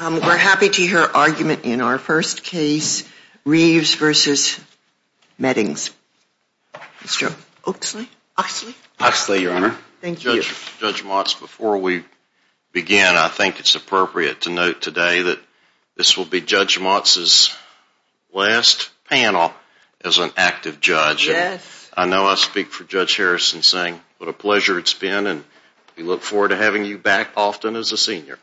We are happy to hear her argument in our first case, Reeves v. Meddings, Mr. Oxley. Judge Motz, before we begin I think it's appropriate to note today that this will be Judge Motz's last panel as an active judge. I know I speak for Judge Harrison saying what a pleasure it's been and we look forward to having you back often as a senior.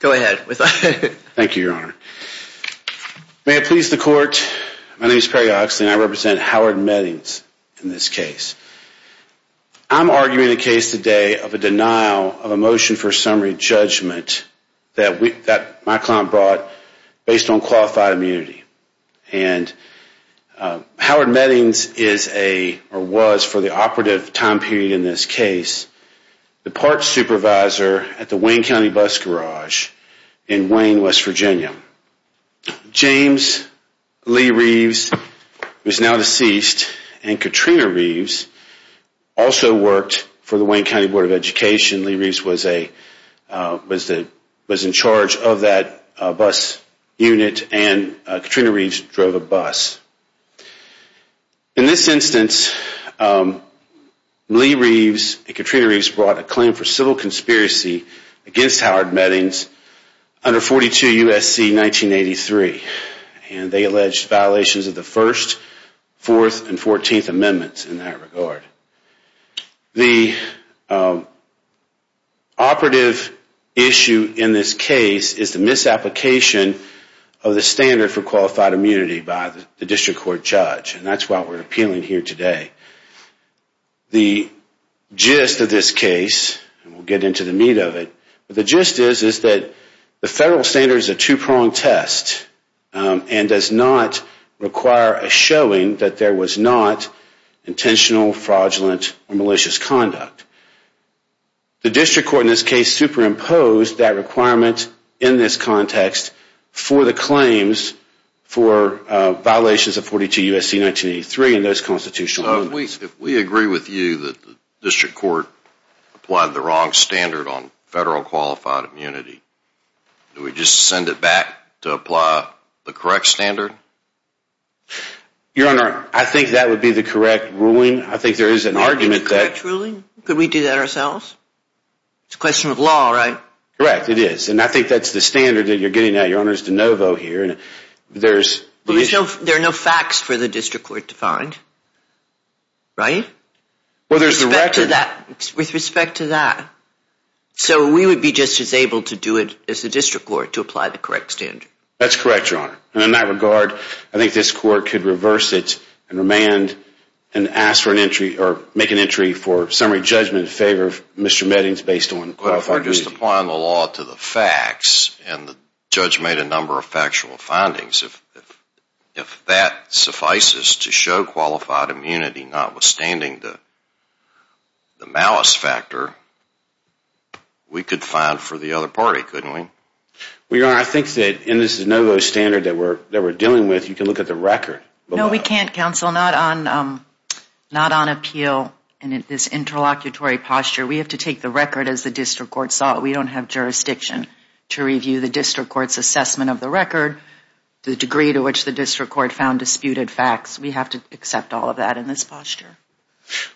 Judge Motz Thank you. May it please the court, my name is Perry Oxley and I represent Howard Meddings in this case. I'm arguing the case today of a denial of a motion for summary judgment that my client brought based on qualified immunity. Howard Meddings was, for the operative time period in this case, the parts supervisor at the Wayne County Bus Garage in Wayne, West Virginia. James Lee Reeves, who is now deceased, and Katrina Reeves also worked for the Wayne County Board of Education, Lee Reeves was in charge of that bus unit and Katrina Reeves drove a bus. In this instance, Lee Reeves and Katrina Reeves brought a claim for civil conspiracy against Howard Meddings under 42 U.S.C. 1983 and they alleged violations of the first, fourth, and fourteenth amendments in that regard. The operative issue in this case is the misapplication of the standard for qualified immunity by the district court judge and that's why we're appealing here today. The gist of this case, and we'll get into the meat of it, the gist is that the federal standard is a two pronged test and does not require a showing that there was not intentional, fraudulent, or malicious conduct. The district court in this case superimposed that requirement in this context for the claims for violations of 42 U.S.C. 1983 and those constitutional amendments. If we agree with you that the district court applied the wrong standard on federal qualified immunity, do you think that would be the correct standard? Your Honor, I think that would be the correct ruling. I think there is an argument that... The correct ruling? Could we do that ourselves? It's a question of law, right? Correct, it is. And I think that's the standard that you're getting at, Your Honor, is de novo here. There are no facts for the district court to find, right? With respect to that. So we would be just as able to do it as the district court to apply the correct standard. That's correct, Your Honor. And in that regard, I think this court could reverse it and remand and ask for an entry or make an entry for summary judgment in favor of Mr. Meddings based on... Just applying the law to the facts and the judge made a number of factual findings. If that suffices to show qualified immunity not standing to the malice factor, we could file for the other party, couldn't we? Your Honor, I think that in this de novo standard that we're dealing with, you can look at the record. No, we can't, counsel. Not on appeal in this interlocutory posture. We have to take the record as the district court saw it. We don't have jurisdiction to review the district court's assessment of the record, the degree to which the district court found disputed facts. We have to accept all of that in this posture.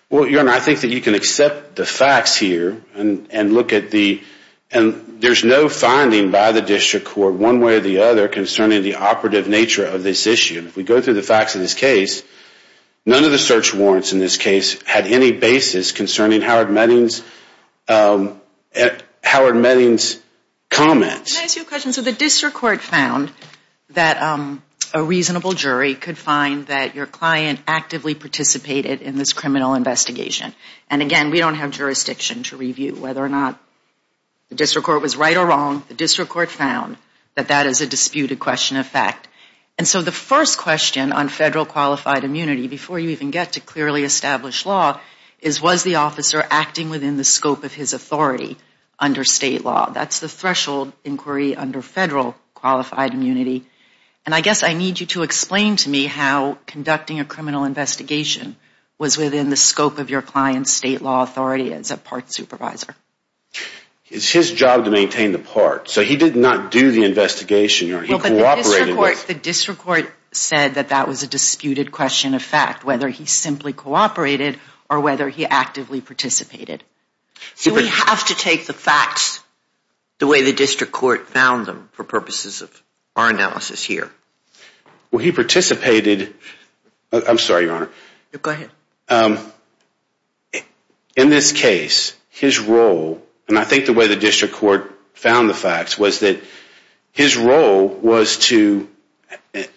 Well, Your Honor, I think that you can accept the facts here and look at the... There's no finding by the district court one way or the other concerning the operative nature of this issue. If we go through the facts of this case, none of the search warrants in this case had any basis concerning Howard Meddings' comments. Can I ask you a question? So the district court found that a reasonable jury could find that your client actively participated in this criminal investigation. And again, we don't have jurisdiction to review whether or not the district court was right or wrong. The district court found that that is a disputed question of fact. And so the first question on federal qualified immunity, before you even get to clearly established law, is was the officer acting within the scope of his authority under state law? That's the threshold inquiry under federal qualified immunity. And I guess I need you to explain to me how conducting a criminal investigation was within the scope of your client's state law authority as a PART supervisor. It's his job to maintain the PART. So he did not do the investigation. The district court said that that was a disputed question of fact, whether he simply cooperated or whether he actively participated. So we have to take the facts the way the district court found them for purposes of our analysis here. Well, he participated. I'm sorry, Your Honor. Go ahead. In this case, his role, and I think the way the district court found the facts, was that his role was to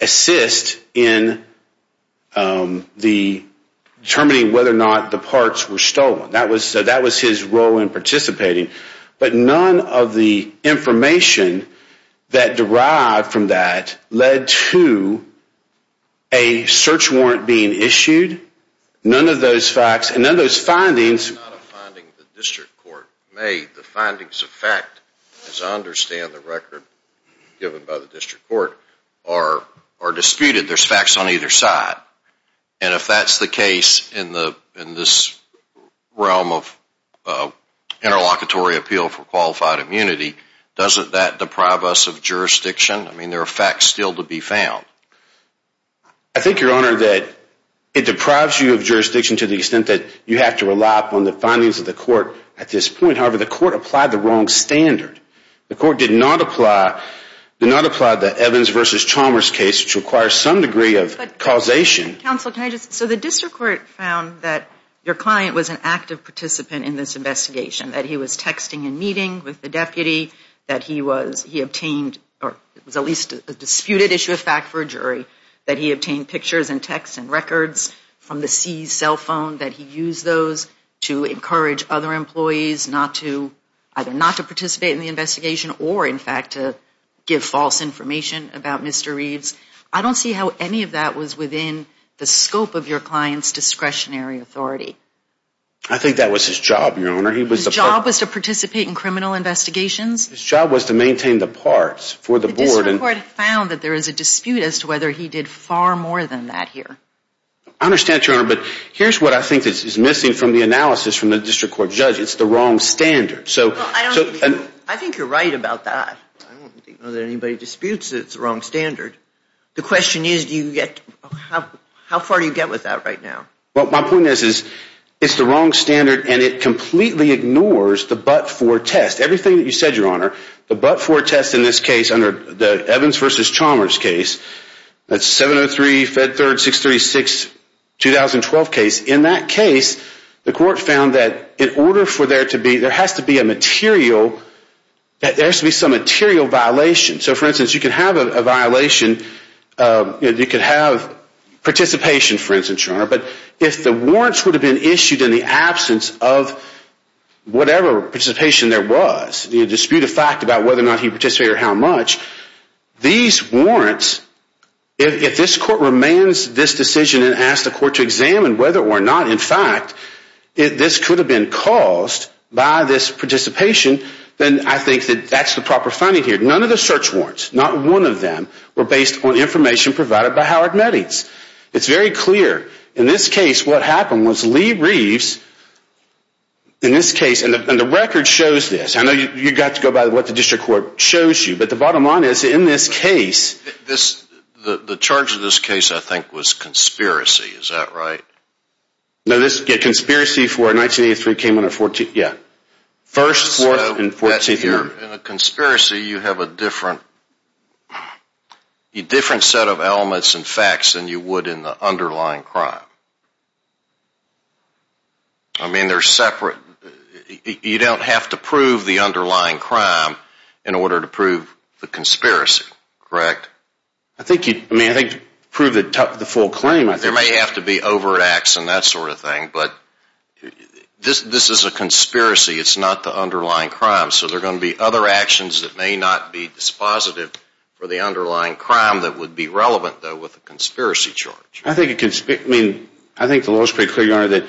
assist in determining whether or not the parts were stolen. That was his role in participating. But none of the information that derived from that led to a search warrant being issued. None of those facts and none of those findings. The findings of fact, as I understand the record given by the district court, are disputed. There's facts on either side. And if that's the case in this realm of interlocutory appeal for qualified immunity, doesn't that deprive us of jurisdiction? I mean, there are facts still to be found. I think, Your Honor, that it deprives you of jurisdiction to the extent that you have to rely upon the findings of the court at this point. However, the court applied the wrong standard. The court did not apply the Evans v. Chalmers case, which requires some degree of causation. But, counsel, the district court found that your client was an active participant in this investigation. That he was texting and meeting with the deputy. That he obtained, or it was at least a disputed issue of fact for a jury, that he obtained pictures and texts and records from the seized cell phone. That he used those to encourage other employees either not to participate in the investigation or, in fact, to give false information about Mr. Reeves. I don't see how any of that was within the scope of your client's discretionary authority. I think that was his job, Your Honor. His job was to participate in criminal investigations? His job was to maintain the parts for the board. The district court found that there is a dispute as to whether he did far more than that here. I understand, Your Honor, but here's what I think is missing from the analysis from the district court judge. It's the wrong standard. I think you're right about that. I don't think anybody disputes that it's the wrong standard. The question is, how far do you get with that right now? Well, my point is, it's the wrong standard and it completely ignores the but-for test. Everything that you said, Your Honor, the but-for test in this case under the Evans v. Chalmers case, that's 703, Fed Third, 636, 2012 case. In that case, the court found that in order for there to be, there has to be a material, there has to be some material violation. So, for instance, you could have a violation, you could have participation, for instance, Your Honor, but if the warrants would have been issued in the absence of whatever participation there was, the dispute of fact about whether or not he participated or how much, these warrants, if this court remains this decision and asks the court to examine whether or not, in fact, this could have been caused by this participation, then I think that's the proper finding here. None of the search warrants, not one of them, were based on information provided by Howard Meddings. It's very clear. In this case, what happened was Lee Reeves, in this case, and the record shows this. I know you've got to go by what the district court shows you, but the bottom line is, in this case... The charge in this case, I think, was conspiracy. Is that right? No, this, yeah, conspiracy for 1983 came on the 14th, yeah. 1st, 4th, and 14th of November. So, in a conspiracy, you have a different set of elements and facts than you would in the underlying crime. I mean, they're separate. You don't have to prove the underlying crime in order to prove the conspiracy, correct? I think you, I mean, I think to prove the full claim, I think... There may have to be overreacts and that sort of thing, but this is a conspiracy. It's not the underlying crime, so there are going to be other actions that may not be dispositive for the underlying crime that would be relevant, though, with a conspiracy charge. I think it, I mean, I think the law is pretty clear, Your Honor, that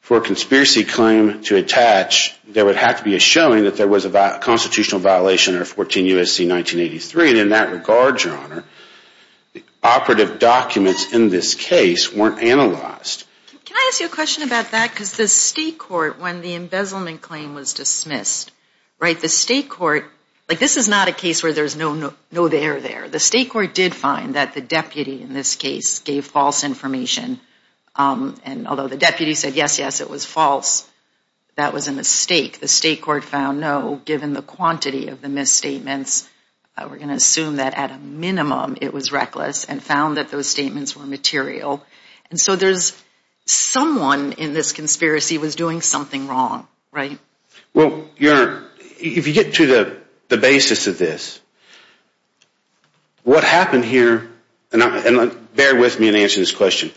for a conspiracy claim to attach, there would have to be a showing that there was a constitutional violation under 14 U.S.C. 1983, and in that regard, Your Honor, the operative documents in this case weren't analyzed. Can I ask you a question about that? Because the state court, when the embezzlement claim was dismissed, right, the state court, like this is not a case where there's no, no, no there there. The state court did find that the deputy in this case gave false information, and although the deputy said, yes, yes, it was false, that was a mistake. The state court found, no, given the quantity of the misstatements, we're going to assume that at a minimum it was reckless, and found that those statements were material, and so there's someone in this conspiracy was doing something wrong, right? Well, Your Honor, if you get to the basis of this, what happened here, and bear with me in answering this question,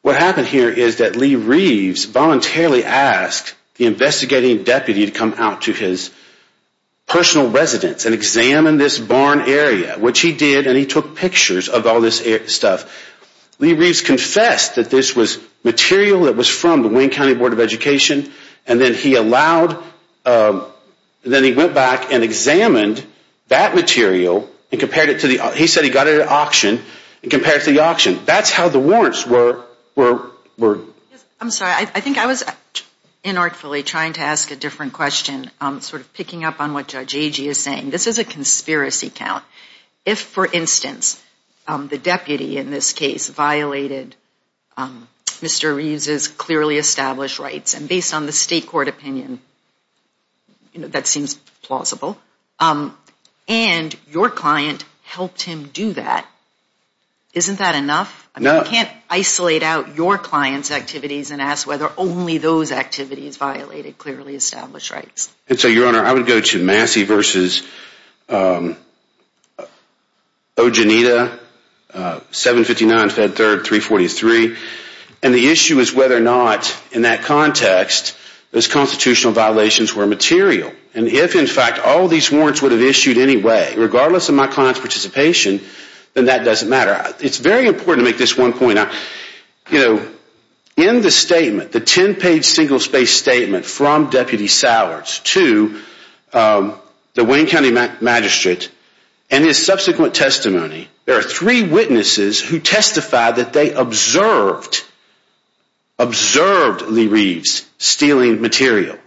what happened here is that Lee Reeves voluntarily asked the investigating deputy to come out to his personal residence and examine this barn area, which he did, and he took pictures of all this stuff. Lee Reeves confessed that this was material that was from the Wayne County Board of Education, and then he allowed, then he went back and examined that material and compared it to the, he said he got it at auction, and compared it to the auction. That's how the warrants were. I'm sorry, I think I was inartfully trying to ask a different question, sort of picking up on what Judge Agee is saying. This is a conspiracy count. If, for instance, the deputy in this case violated Mr. Reeves' clearly established rights, and based on the state court opinion, that seems plausible, and your client helped him do that, isn't that enough? No. You can't isolate out your client's activities and ask whether only those activities violated clearly established rights. And so, Your Honor, I would go to Massey v. Ogenita, 759 Fed 3rd, 343, and the issue is whether or not, in that context, those constitutional violations were material, and if, in fact, all these warrants would have issued anyway, regardless of my client's participation, then that doesn't matter. It's very important to make this one point. In the statement, the 10-page single-space statement from Deputy Sowers to the Wayne County Magistrate, and his subsequent testimony, there are three witnesses who testify that they observed, observed Lee Reeves stealing material.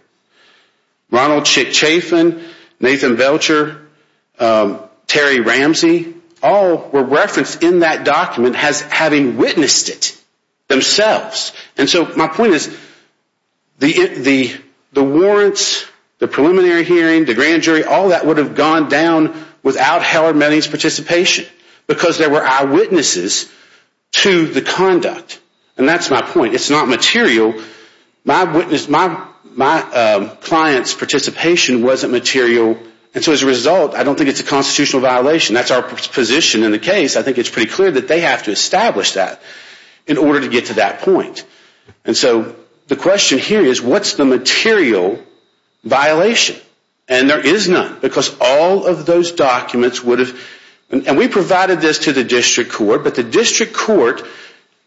Ronald Schick-Chafin, Nathan Belcher, Terry Ramsey, all were referenced in that document as having witnessed it themselves. And so, my point is, the warrants, the preliminary hearing, the grand jury, all that would have gone down without Heller-Meading's participation, because there were eyewitnesses to the conduct. And that's my point. It's not material. My client's participation wasn't material. And so, as a result, I don't think it's a constitutional violation. That's our position in the case. I think it's pretty clear that they have to establish that in order to get to that point. And so, the question here is, what's the material violation? And there is none, because all of those documents would have, and we provided this to the district court, but the district court,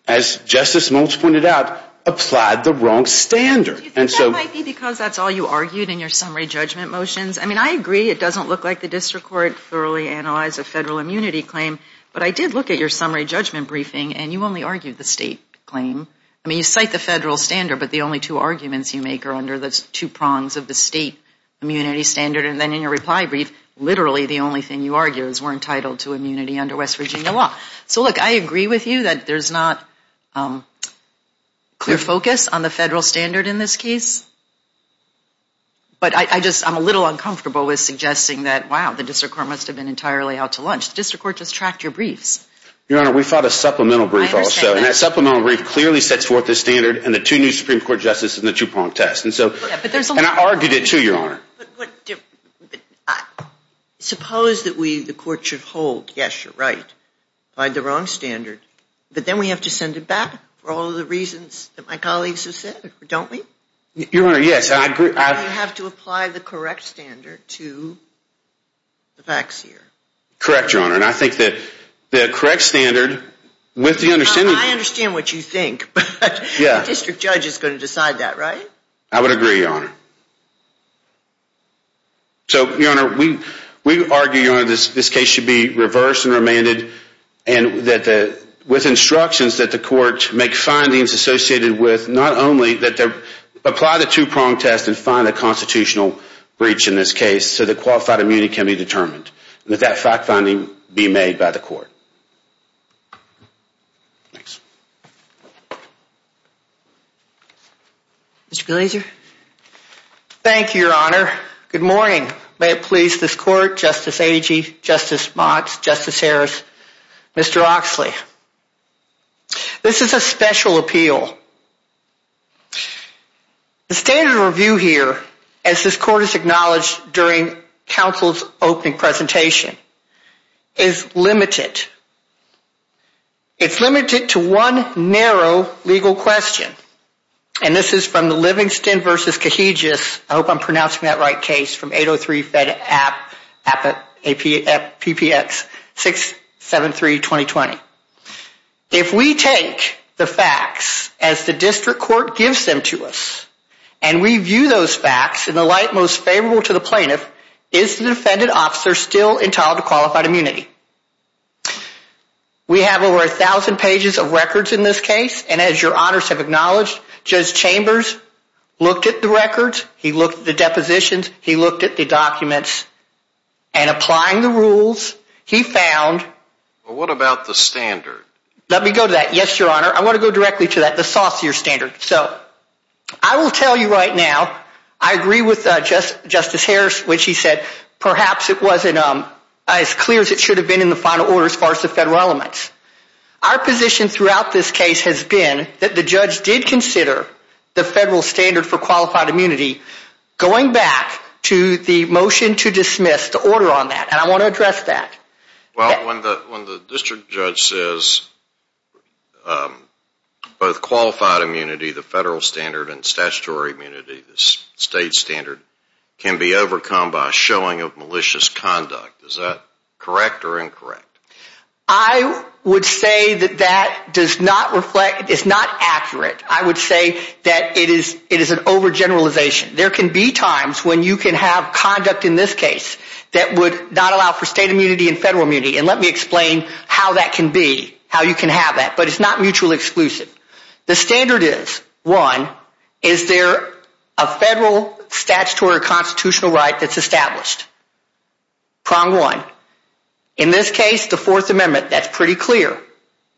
as Justice Moults pointed out, applied the wrong standard. Do you think that might be because that's all you argued in your summary judgment motions? I mean, I agree it doesn't look like the district court thoroughly analyzed a federal immunity claim, but I did look at your summary judgment briefing, and you only argued the state claim. I mean, you cite the federal standard, but the only two arguments you make are under the two prongs of the state immunity standard. And then, in your reply brief, literally the only thing you argue is we're entitled to immunity under West Virginia law. So, look, I agree with you that there's not clear focus on the federal standard in this case, but I just, I'm a little uncomfortable with suggesting that, wow, the district court must have been entirely out to lunch. The district court just tracked your briefs. Your Honor, we thought a supplemental brief also, and that supplemental brief clearly sets forth the standard and the two new Supreme Court justices and the two pronged tests. And so, and I argued it too, Your Honor. But, suppose that we, the court should hold, yes, you're right, applied the wrong standard, but then we have to send it back for all the reasons that my colleagues have said, or don't we? Your Honor, yes, I agree. And you have to apply the correct standard to the facts here. Correct, Your Honor, and I think that the correct standard, with the understanding... I understand what you think, but the district judge is going to decide that, right? I would agree, Your Honor. So, Your Honor, we argue, Your Honor, this case should be reversed and remanded and that with instructions that the court make findings associated with not only that they apply the two pronged tests and find a constitutional breach in this case so that qualified immunity can be determined, and that that fact finding be made by the court. Mr. Glazer? Thank you, Your Honor. Good morning. May it please this court, Justice Agee, Justice Mott, Justice Harris, Mr. Oxley. This is a special appeal. The standard of review here, as this court has acknowledged during counsel's opening presentation, is limited. It's limited to one narrow legal question, and this is from the Livingston v. Cajigas, I hope I'm pronouncing that right, case from 803-FED-APP-PPX-673-2020. If we take the facts as the district court gives them to us and we view those facts in the light most favorable to the plaintiff, is the defendant officer still entitled to qualified immunity? We have over 1,000 pages of records in this case, and as Your Honors have acknowledged, Judge Chambers looked at the records, he looked at the depositions, he looked at the documents, and applying the rules, he found... What about the standard? Let me go to that, yes, Your Honor. I want to go directly to that, the saucier standard. So, I will tell you right now, I agree with Justice Harris when she said perhaps it wasn't as clear as it should have been in the final order as far as the federal elements. Our position throughout this case has been that the judge did consider the federal standard for qualified immunity going back to the motion to dismiss the order on that, and I want to address that. Well, when the district judge says both qualified immunity, the federal standard, and statutory immunity, the state standard, can be overcome by a showing of malicious conduct, is that correct or incorrect? I would say that that does not reflect, it's not accurate. I would say that it is an overgeneralization. There can be times when you can have conduct in this case that would not allow for state immunity and federal immunity, and let me explain how that can be, how you can have that, but it's not mutually exclusive. The standard is, one, is there a federal statutory or constitutional right that's established? Prong one. In this case, the Fourth Amendment, that's pretty clear.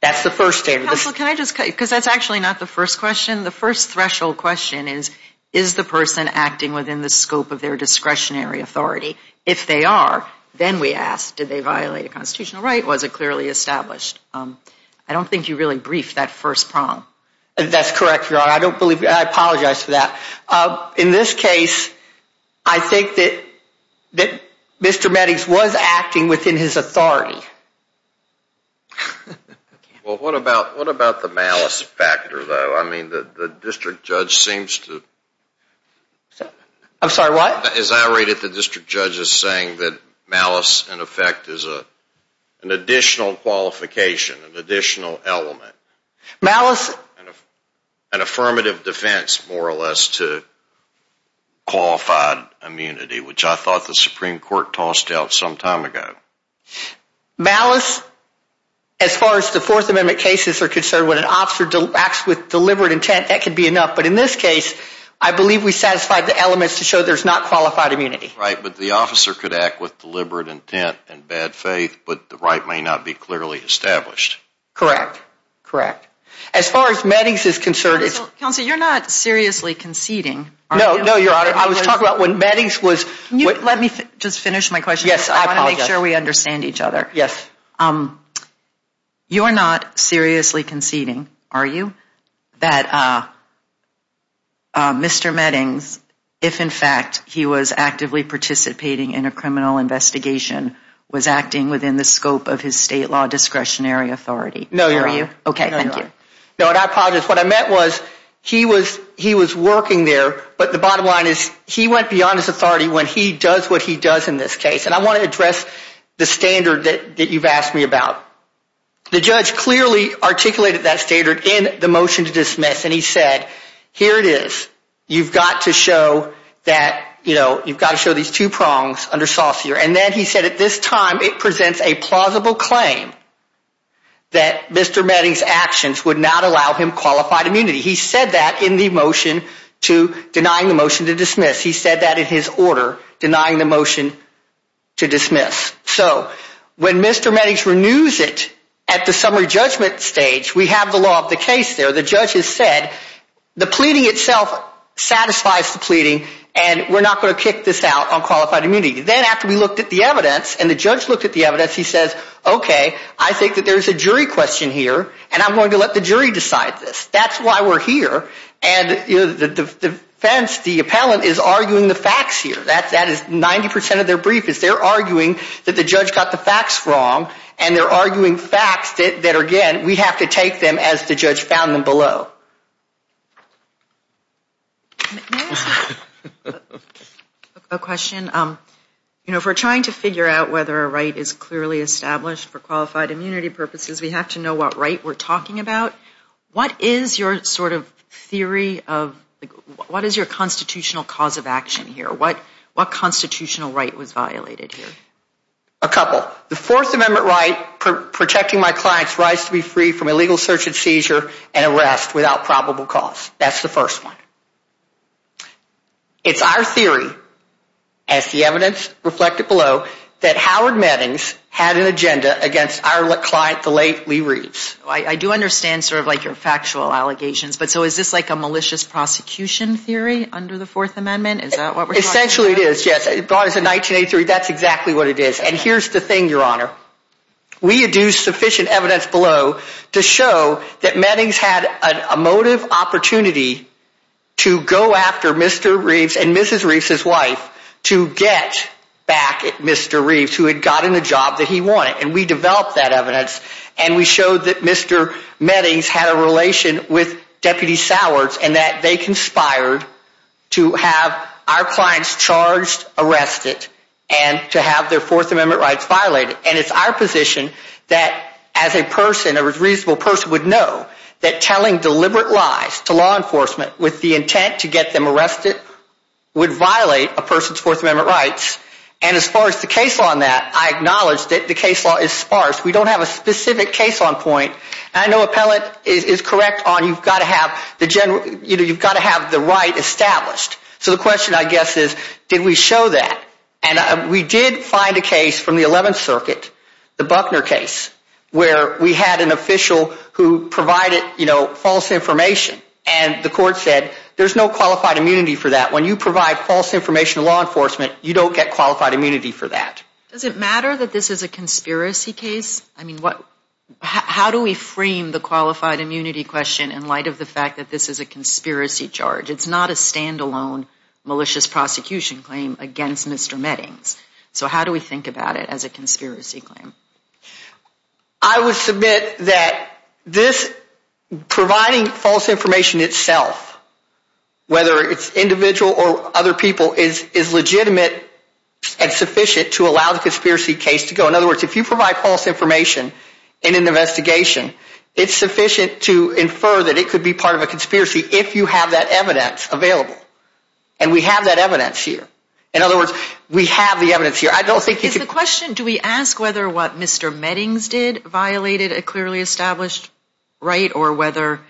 That's the first standard. Counsel, can I just, because that's actually not the first question. The first threshold question is, is the person acting within the scope of their discretionary authority? If they are, then we ask, did they violate a constitutional right? Was it clearly established? I don't think you really briefed that first prong. That's correct, Your Honor. I don't believe, I apologize for that. In this case, I think that Mr. Meddix was acting within his authority. Well, what about the malice factor, though? I mean, the district judge seems to... I'm sorry, what? As I read it, the district judge is saying that malice, in effect, is an additional qualification, an additional element. Malice... An affirmative defense, more or less, to qualified immunity, which I thought the Supreme Court tossed out some time ago. Malice, as far as the Fourth Amendment cases are concerned, when an officer acts with deliberate intent, that could be enough, but in this case, I believe we satisfied the elements to show there's not qualified immunity. Right, but the officer could act with deliberate intent and bad faith, but the right may not be clearly established. Correct. Correct. As far as Meddix is concerned... Counsel, you're not seriously conceding, are you? No, no, Your Honor. I was talking about when Meddix was... Let me just finish my question. Yes, I apologize. I want to make sure we understand each other. Yes. You're not seriously conceding, are you, that Mr. Meddix, if in fact he was actively participating in a criminal investigation, was acting within the scope of his state law discretionary authority? No, Your Honor. Okay, thank you. No, and I apologize. What I meant was, he was working there, but the bottom line is, he went beyond his authority when he does what he does in this case, and I want to address the standard that you've asked me about. The judge clearly articulated that standard in the motion to dismiss, and he said, here it is. You've got to show that, you know, you've got to show these two prongs under saucier, and then he said at this time it presents a plausible claim that Mr. Meddix's actions would not allow him qualified immunity. He said that in the motion to denying the motion to dismiss. He said that in his order denying the motion to dismiss. So when Mr. Meddix renews it at the summary judgment stage, we have the law of the case there. The judge has said, the pleading itself satisfies the pleading, and we're not going to kick this out on qualified immunity. Then after we looked at the evidence, and the judge looked at the evidence, he says, okay, I think that there's a jury question here, and I'm going to let the jury decide this. That's why we're here, and the defense, the appellant, is arguing the facts here. That is 90 percent of their brief, is they're arguing that the judge got the facts wrong, and they're arguing facts that, again, we have to take them as the judge found them below. May I ask a question? You know, if we're trying to figure out whether a right is clearly established for qualified immunity purposes, we have to know what right we're talking about. What is your sort of theory of, what is your constitutional cause of action here? What constitutional right was violated here? A couple. The Fourth Amendment right, protecting my clients' rights to be free from illegal search and seizure and arrest without probable cause. That's the first one. It's our theory, as the evidence reflected below, that Howard Mattings had an agenda against our client, the late Lee Reeves. I do understand sort of like your factual allegations, but so is this like a malicious prosecution theory under the Fourth Amendment? Is that what we're talking about? Essentially it is, yes. It brought us to 1983. That's exactly what it is. And here's the thing, Your Honor. We had used sufficient evidence below to show that Mattings had a motive opportunity to go after Mr. Reeves and Mrs. Reeves' wife to get back at Mr. Reeves, who had gotten the job that he wanted. And we developed that evidence, and we showed that Mr. Mattings had a relation with Deputy Sowers, and that they conspired to have our clients charged, arrested, and to have their Fourth Amendment rights violated. And it's our position that as a person, a reasonable person, would know that telling deliberate lies to law enforcement with the intent to get them arrested would violate a person's Fourth Amendment rights. And as far as the case law on that, I acknowledge that the case law is sparse. We don't have a specific case on point. And I know Appellate is correct on you've got to have the right established. So the question, I guess, is did we show that? And we did find a case from the 11th Circuit, the Buckner case, where we had an official who provided false information, and the court said there's no qualified immunity for that. When you provide false information to law enforcement, you don't get qualified immunity for that. Does it matter that this is a conspiracy case? I mean, how do we frame the qualified immunity question in light of the fact that this is a conspiracy charge? It's not a standalone malicious prosecution claim against Mr. Mettings. So how do we think about it as a conspiracy claim? I would submit that providing false information itself, whether it's individual or other people, is legitimate and sufficient to allow the conspiracy case to go. In other words, if you provide false information in an investigation, it's sufficient to infer that it could be part of a conspiracy if you have that evidence available. And we have that evidence here. In other words, we have the evidence here. I don't think you could... Is the question, do we ask whether what Mr. Mettings did violated a clearly established right, or whether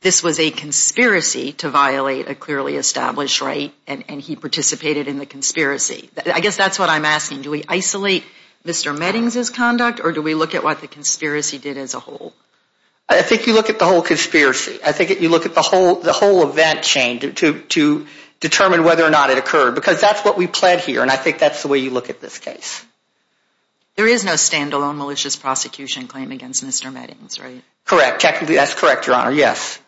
this was a conspiracy to violate a clearly established right, and he participated in the conspiracy? I guess that's what I'm asking. Do we isolate Mr. Mettings' conduct, or do we look at what the conspiracy did as a whole? I think you look at the whole conspiracy. I think you look at the whole event chain to determine whether or not it occurred, because that's what we pled here, and I think that's the way you look at this case. There is no standalone malicious prosecution claim against Mr. Mettings, right? Correct. Technically, that's correct, Your Honor, yes.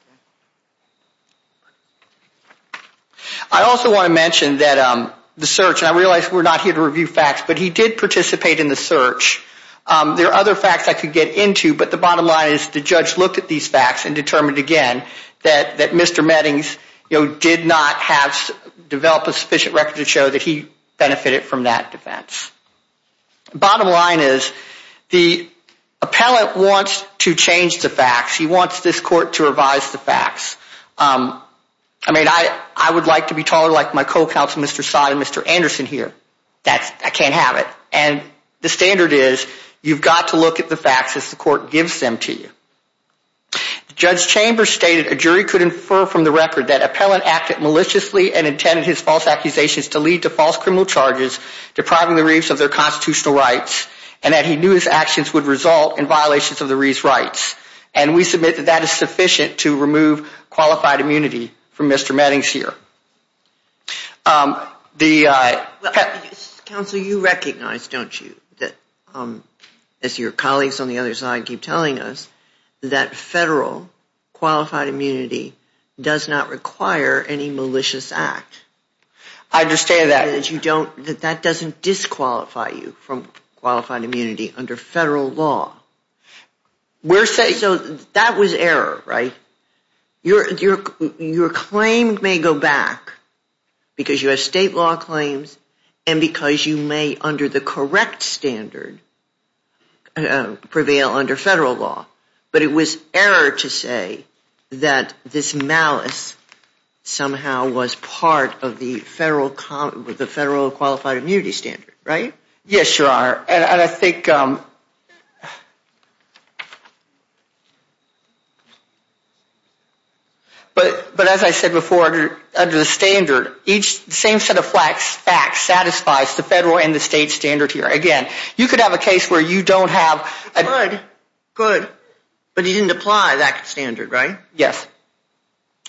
I also want to mention that the search, and I realize we're not here to review facts, but he did participate in the search. There are other facts I could get into, but the bottom line is the judge looked at these facts and determined, again, that Mr. Mettings did not develop a sufficient record to show that he benefited from that defense. Bottom line is, the appellant wants to change the facts. He wants this court to revise the facts. I mean, I would like to be taller like my co-counsel, Mr. Sott, and Mr. Anderson here. I can't have it. And the standard is, you've got to look at the facts as the court gives them to you. Judge Chambers stated, a jury could infer from the record that appellant acted maliciously and intended his false accusations to lead to false criminal charges depriving the Reeves of their constitutional rights, and that he knew his actions would result in violations of the Reeves' rights, and we submit that that is sufficient to remove Mr. Mettings from qualified immunity. Counsel, you recognize, don't you, that as your colleagues on the other side keep telling us, that federal qualified immunity does not require any malicious act. I understand that. That doesn't disqualify you from qualified immunity under federal law. So that was error, right? Your claim may go back because you have state law claims and because you may, under the correct standard, prevail under federal law. But it was error to say that this malice somehow was part of the federal qualified immunity standard, right? Yes, Your Honor. And I think, but as I said before, under the standard, each same set of facts satisfies the federal and the state standard here. Again, you could have a case where you don't have... Good, good. But he didn't apply that standard, right? Yes.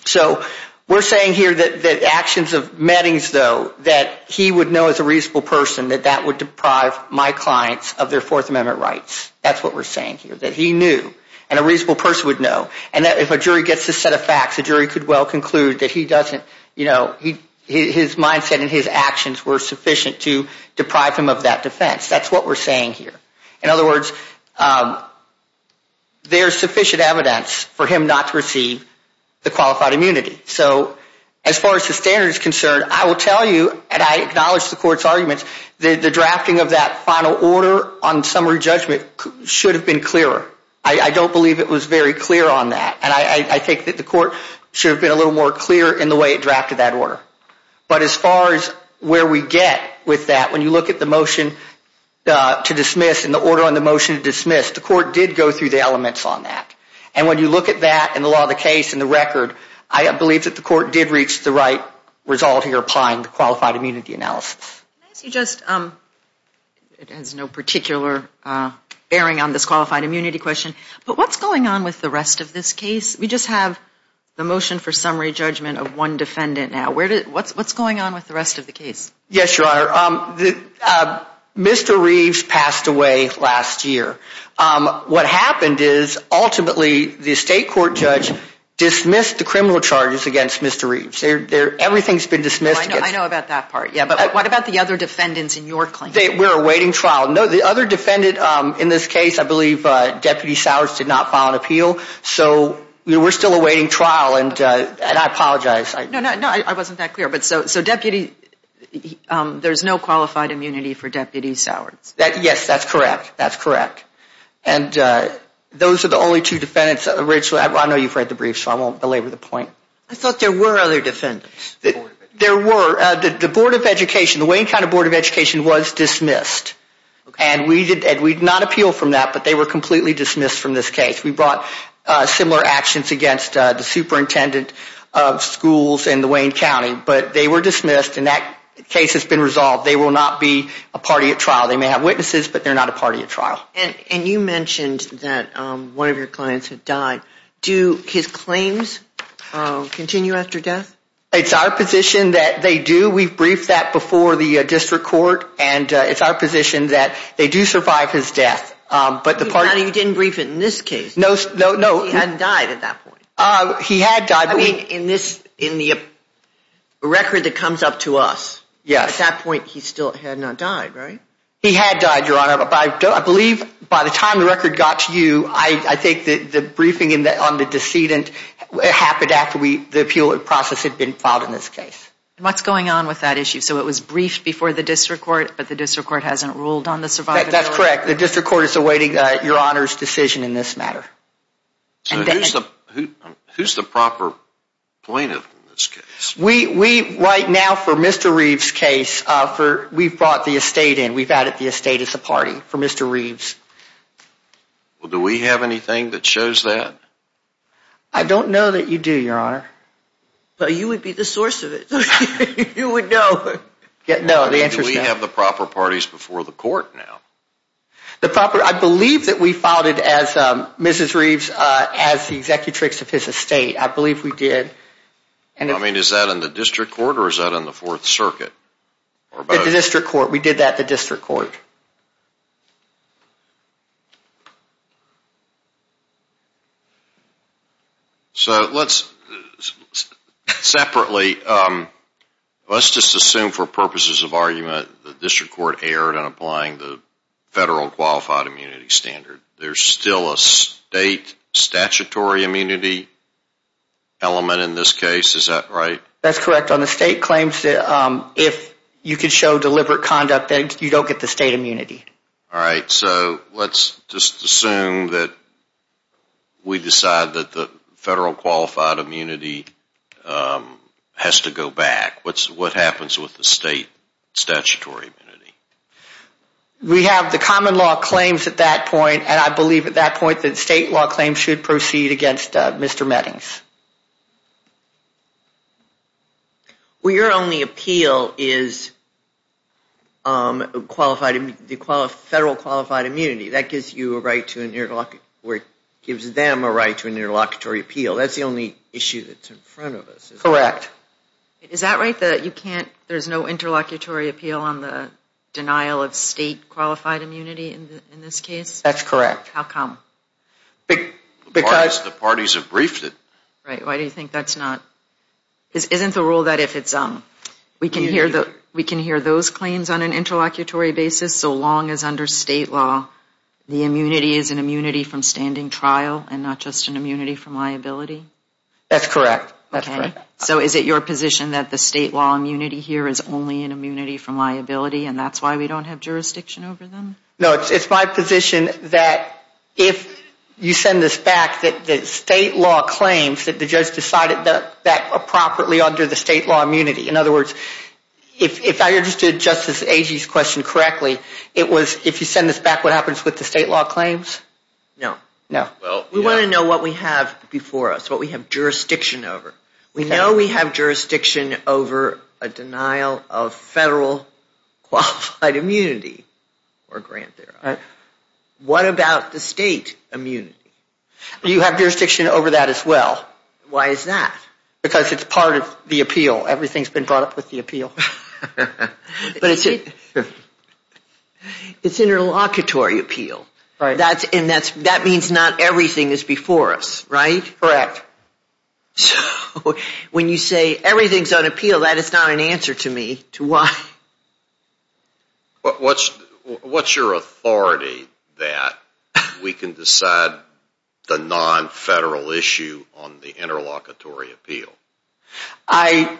So, we're saying here that actions of Mettings, though, that he would know as a reasonable person that that would deprive my clients of their Fourth Amendment rights. That's what we're saying here, that he knew and a reasonable person would know. And if a jury gets this set of facts, the jury could well conclude that he doesn't, you know, his mindset and his actions were sufficient to deprive him of that defense. That's what we're saying here. In other words, there's sufficient evidence for him not to receive the qualified immunity. So, as far as the standard is concerned, I will tell you, and I acknowledge the court's arguments, the drafting of that final order on summary judgment should have been clearer. I don't believe it was very clear on that. And I think that the court should have been a little more clear in the way it drafted that order. But as far as where we get with that, when you look at the motion to dismiss and the order on the motion to dismiss, the court did go through the elements on that. And when you look at that and the law of the case and the record, I believe that the court did reach the right result here applying the qualified immunity analysis. Can I ask you just, it has no particular bearing on this qualified immunity question, but what's going on with the rest of this case? We just have the motion for summary judgment of one defendant now. What's going on with the rest of the case? Yes, Your Honor. Mr. Reeves passed away last year. What happened is ultimately the state court judge dismissed the criminal charges against Mr. Reeves. Everything's been dismissed. I know about that part, yeah. But what about the other defendants in your claim? We're awaiting trial. No, the other defendant in this case, I believe Deputy Sowers did not file an appeal. So we're still awaiting trial, and I apologize. No, no, I wasn't that clear. So Deputy, there's no qualified immunity for Deputy Sowers? Yes, that's correct. And those are the only two defendants, Rachel, I know you've read the brief, so I won't belabor the point. I thought there were other defendants. There were. The Board of Education, the Wayne County Board of Education was dismissed, and we did not appeal from that, but they were completely dismissed from this case. We brought similar actions against the superintendent of schools in the Wayne County, but they were dismissed, and that case has been resolved. They will not be a party at trial. They may have witnesses, but they're not a party at trial. And you mentioned that one of your clients had died. Do his claims continue after death? It's our position that they do. We've briefed that before the district court, and it's our position that they do survive his death. But the part- But you didn't brief it in this case. No, no, no. Because he hadn't died at that point. He had died, but we- I mean, in this, in the record that comes up to us, at that point, he still had not died, right? He had died, Your Honor, but I believe by the time the record got to you, I think that the briefing on the decedent happened after the appeal process had been filed in this case. And what's going on with that issue? So it was briefed before the district court, but the district court hasn't ruled on the survivor? That's correct. The district court is awaiting Your Honor's decision in this matter. So who's the proper plaintiff in this case? We, right now, for Mr. Reeves' case, we've brought the estate in. We've added the estate as a party for Mr. Reeves. Do we have anything that shows that? I don't know that you do, Your Honor. But you would be the source of it. You would know. No, the answer is no. Do we have the proper parties before the court now? The proper- I believe that we filed it as Mrs. Reeves, as the executrix of his estate. I believe we did. I mean, is that in the district court or is that in the Fourth Circuit? The district court. We did that at the district court. So let's, separately, let's just assume for purposes of argument, the district court erred on applying the federal qualified immunity standard. There's still a state statutory immunity element in this case, is that right? That's correct. On the state claims, if you can show deliberate conduct, then you don't get the state immunity. All right. So let's just assume that we decide that the federal qualified immunity has to go back. What happens with the state statutory immunity? We have the common law claims at that point, and I believe at that point that state law claims should proceed against Mr. Mettings. Well, your only appeal is the federal qualified immunity. That gives you a right to an interloc- or it gives them a right to an interlocutory appeal. That's the only issue that's in front of us, is that right? Correct. Is that right, that you can't, there's no interlocutory appeal on the denial of state qualified immunity in this case? That's correct. How come? Because the parties have briefed it. Right. Why do you think that's not, isn't the rule that if it's, we can hear those claims on an interlocutory basis so long as under state law, the immunity is an immunity from standing trial and not just an immunity from liability? That's correct. Okay. So is it your position that the state law immunity here is only an immunity from liability and that's why we don't have jurisdiction over them? No, it's my position that if you send this back, that the state law claims that the judge decided that appropriately under the state law immunity, in other words, if I understood Justice Agee's question correctly, it was if you send this back, what happens with the state law claims? No. No. Well, we want to know what we have before us, what we have jurisdiction over. Okay. We know we have jurisdiction over a denial of federal qualified immunity or grant thereof. What about the state immunity? You have jurisdiction over that as well. Why is that? Because it's part of the appeal. Everything's been brought up with the appeal. But it's, it's interlocutory appeal. Right. That's, and that's, that means not everything is before us, right? Correct. So, when you say everything's on appeal, that is not an answer to me, to why. But, what's, what's your authority that we can decide the non-federal issue on the interlocutory appeal? I,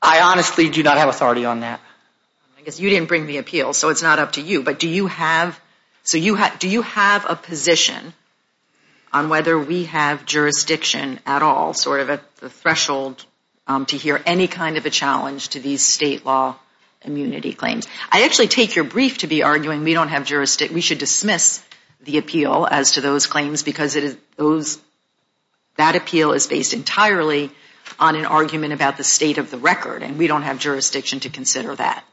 I honestly do not have authority on that. I guess you didn't bring the appeal, so it's not up to you, but do you have, so you have, do you have a position on whether we have jurisdiction at all, sort of at the threshold to hear any kind of a challenge to these state law immunity claims? I actually take your brief to be arguing we don't have jurisdiction, we should dismiss the appeal as to those claims because it is, those, that appeal is based entirely on an argument about the state of the record, and we don't have jurisdiction to consider that.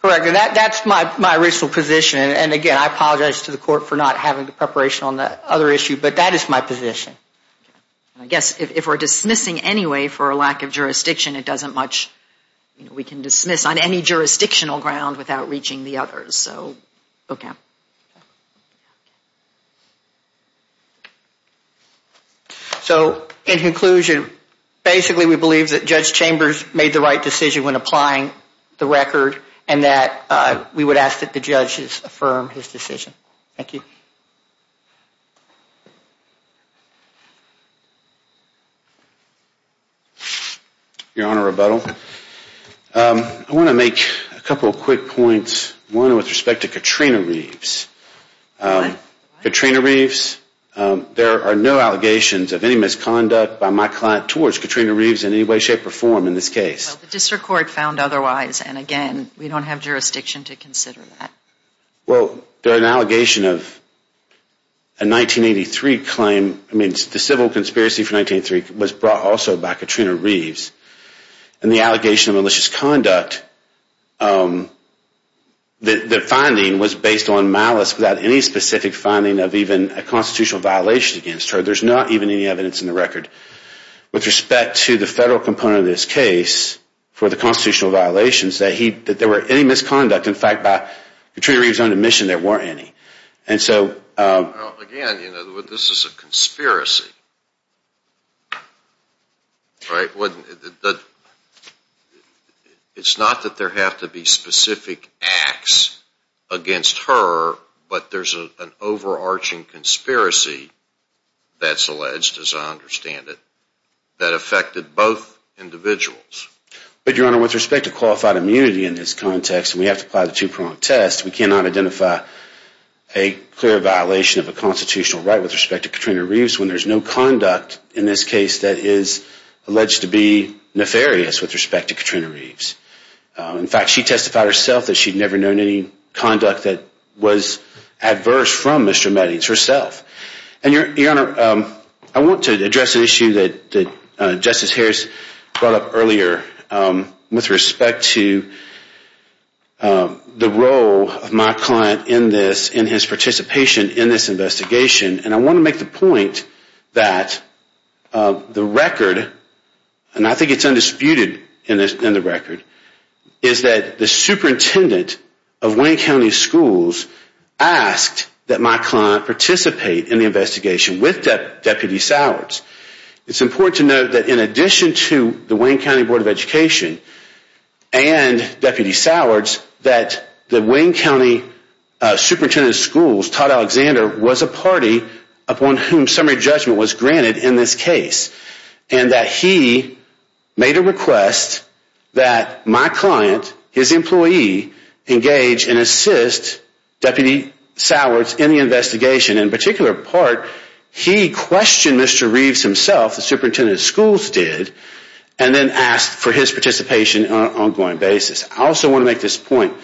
Correct. And that, that's my, my original position, and again, I apologize to the court for not having the preparation on the other issue, but that is my position. I guess if we're dismissing anyway for a lack of jurisdiction, it doesn't much, you know, we can dismiss on any jurisdictional ground without reaching the others, so, okay. So in conclusion, basically we believe that Judge Chambers made the right decision when we would ask that the judges affirm his decision. Thank you. Your Honor, rebuttal. I want to make a couple of quick points, one with respect to Katrina Reeves. Katrina Reeves, there are no allegations of any misconduct by my client towards Katrina Reeves in any way, shape, or form in this case. Well, the district court found otherwise, and again, we don't have jurisdiction to consider that. Well, there are an allegation of a 1983 claim, I mean, the civil conspiracy for 1983 was brought also by Katrina Reeves, and the allegation of malicious conduct, the finding was based on malice without any specific finding of even a constitutional violation against her. There's not even any evidence in the record. With respect to the federal component of this case, for the constitutional violations, that there were any misconduct, in fact, by Katrina Reeves' own admission, there weren't any. And so... Again, you know, this is a conspiracy, right? It's not that there have to be specific acts against her, but there's an overarching conspiracy that's alleged, as I understand it, that affected both individuals. But, Your Honor, with respect to qualified immunity in this context, and we have to apply the two-prong test, we cannot identify a clear violation of a constitutional right with respect to Katrina Reeves when there's no conduct in this case that is alleged to be nefarious with respect to Katrina Reeves. In fact, she testified herself that she'd never known any conduct that was adverse from Mr. Meadings herself. And Your Honor, I want to address an issue that Justice Harris brought up earlier with respect to the role of my client in this, in his participation in this investigation, and I want to make the point that the record, and I think it's undisputed in the record, is that the superintendent of Wayne County Schools asked that my client participate in the investigation with Deputy Sowers. It's important to note that in addition to the Wayne County Board of Education and Deputy Sowers, that the Wayne County Superintendent of Schools, Todd Alexander, was a party upon whom summary judgment was granted in this case, and that he made a request that my client, his employee, engage and assist Deputy Sowers in the investigation. In particular part, he questioned Mr. Reeves himself, the superintendent of schools did, and then asked for his participation on an ongoing basis. I also want to make this point.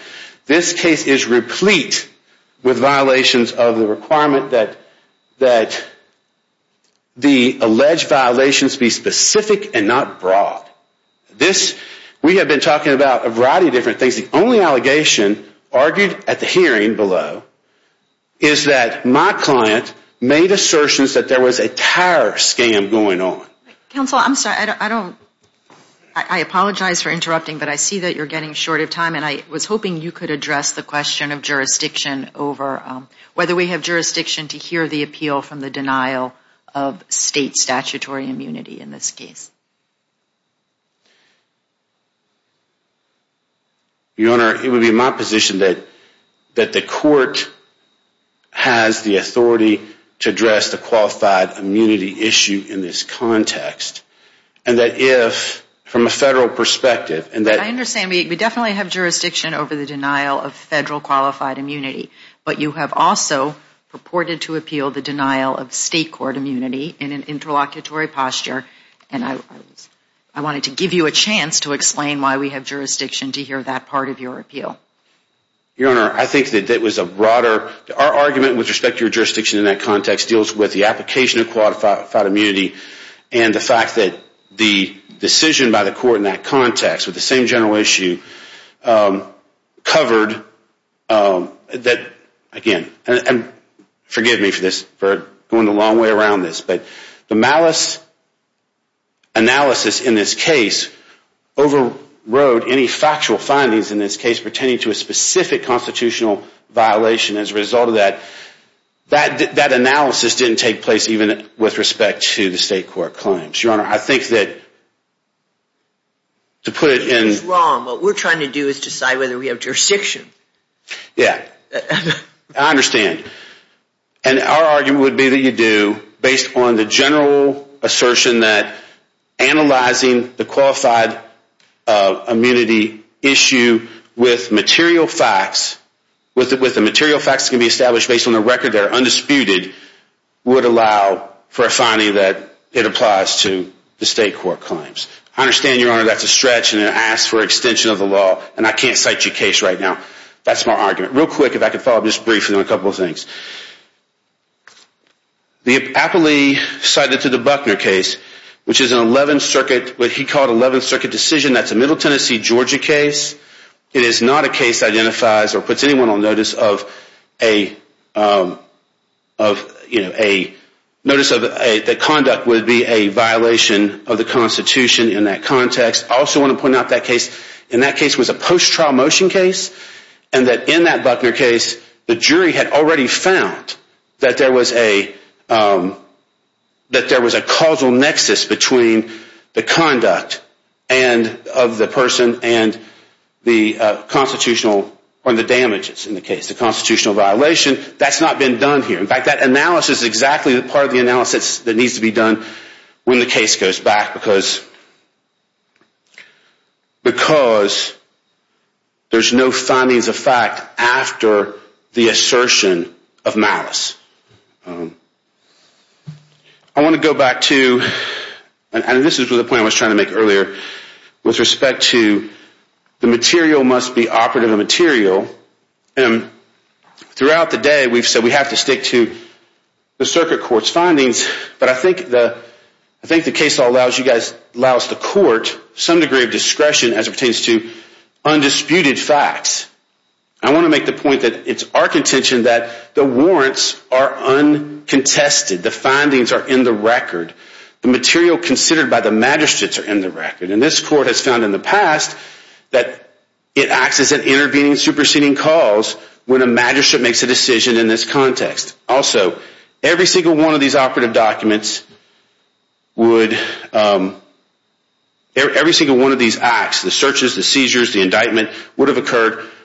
This case is replete with violations of the requirement that the alleged violations be specific and not broad. This, we have been talking about a variety of different things. The only allegation argued at the hearing below is that my client made assertions that there was a terror scam going on. Counsel, I'm sorry, I don't, I apologize for interrupting, but I see that you're getting short of time, and I was hoping you could address the question of jurisdiction over whether we have jurisdiction to hear the appeal from the denial of state statutory immunity in this case. Your Honor, it would be my position that the court has the authority to address the qualified immunity issue in this context, and that if, from a federal perspective, and that... You have jurisdiction over the denial of federal qualified immunity, but you have also purported to appeal the denial of state court immunity in an interlocutory posture, and I wanted to give you a chance to explain why we have jurisdiction to hear that part of your appeal. Your Honor, I think that that was a broader... Our argument with respect to your jurisdiction in that context deals with the application of qualified immunity, and the fact that the decision by the court in that context with the same general issue covered that, again, and forgive me for this, for going the long way around this, but the malice analysis in this case overrode any factual findings in this case pertaining to a specific constitutional violation as a result of that. That analysis didn't take place even with respect to the state court claims. Your Honor, I think that to put it in... It's wrong. What we're trying to do is decide whether we have jurisdiction. Yeah, I understand. And our argument would be that you do based on the general assertion that analyzing the qualified immunity issue with material facts, with the material facts that can be established based on the record that are undisputed, would allow for a finding that it applies to the state court claims. I understand, Your Honor, that's a stretch and it asks for extension of the law, and I can't cite your case right now. That's my argument. Real quick, if I could follow up just briefly on a couple of things. The Appley cited to the Buckner case, which is an 11th Circuit, what he called an 11th Circuit decision that's a Middle Tennessee, Georgia case. It is not a case that identifies or puts anyone on notice of a... Notice of the conduct would be a violation of the Constitution in that context. I also want to point out that case, and that case was a post-trial motion case, and that in that Buckner case, the jury had already found that there was a... That there was a causal nexus between the conduct of the person and the constitutional, or the damages in the case. The constitutional violation, that's not been done here. In fact, that analysis is exactly part of the analysis that needs to be done when the case goes back, because there's no findings of fact after the assertion of malice. I want to go back to, and this is the point I was trying to make earlier, with respect to the material must be operative material. And throughout the day, we've said we have to stick to the circuit court's findings, but I think the case law allows you guys, allows the court some degree of discretion as it pertains to undisputed facts. I want to make the point that it's our contention that the warrants are uncontested. The findings are in the record. The material considered by the magistrates are in the record. And this court has found in the past that it acts as an intervening, superseding cause when a magistrate makes a decision in this context. Also, every single one of these operative documents would...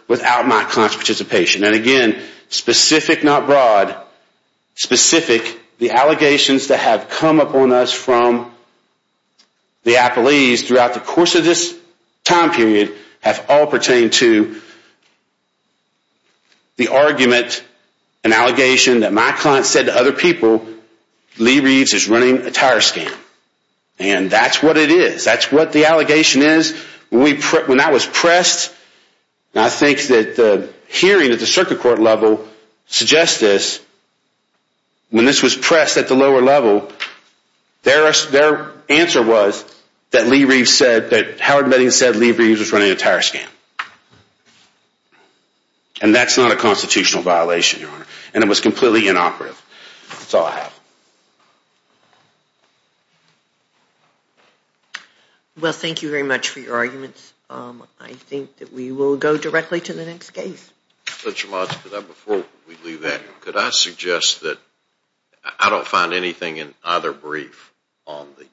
without my client's participation. And again, specific, not broad, specific, the allegations that have come upon us from the Applees throughout the course of this time period have all pertained to the argument and allegation that my client said to other people, Lee Reeves is running a tire scam. And that's what it is. That's what the allegation is. When that was pressed, and I think that the hearing at the circuit court level suggests this, when this was pressed at the lower level, their answer was that Lee Reeves said, that Howard Mettings said Lee Reeves was running a tire scam. And that's not a constitutional violation, Your Honor. And it was completely inoperative. That's all I have. Well, thank you very much for your arguments. I think that we will go directly to the next case. Judge Romage, before we leave that, could I suggest that I don't find anything in either brief on the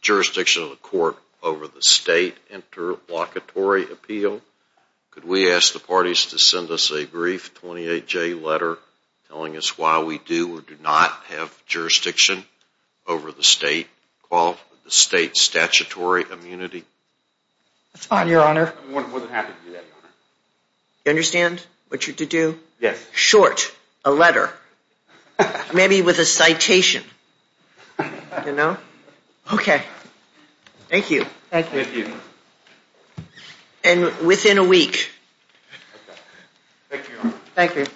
jurisdiction of the court over the state interlocutory appeal. Could we ask the parties to send us a brief 28-J letter telling us why we do or do not have jurisdiction over the state's statutory immunity? That's fine, Your Honor. I wasn't happy to do that, Your Honor. You understand what you're to do? Yes. Short. A letter. Maybe with a citation, you know? Okay. Thank you. Thank you. And within a week. Thank you, Your Honor. Thank you.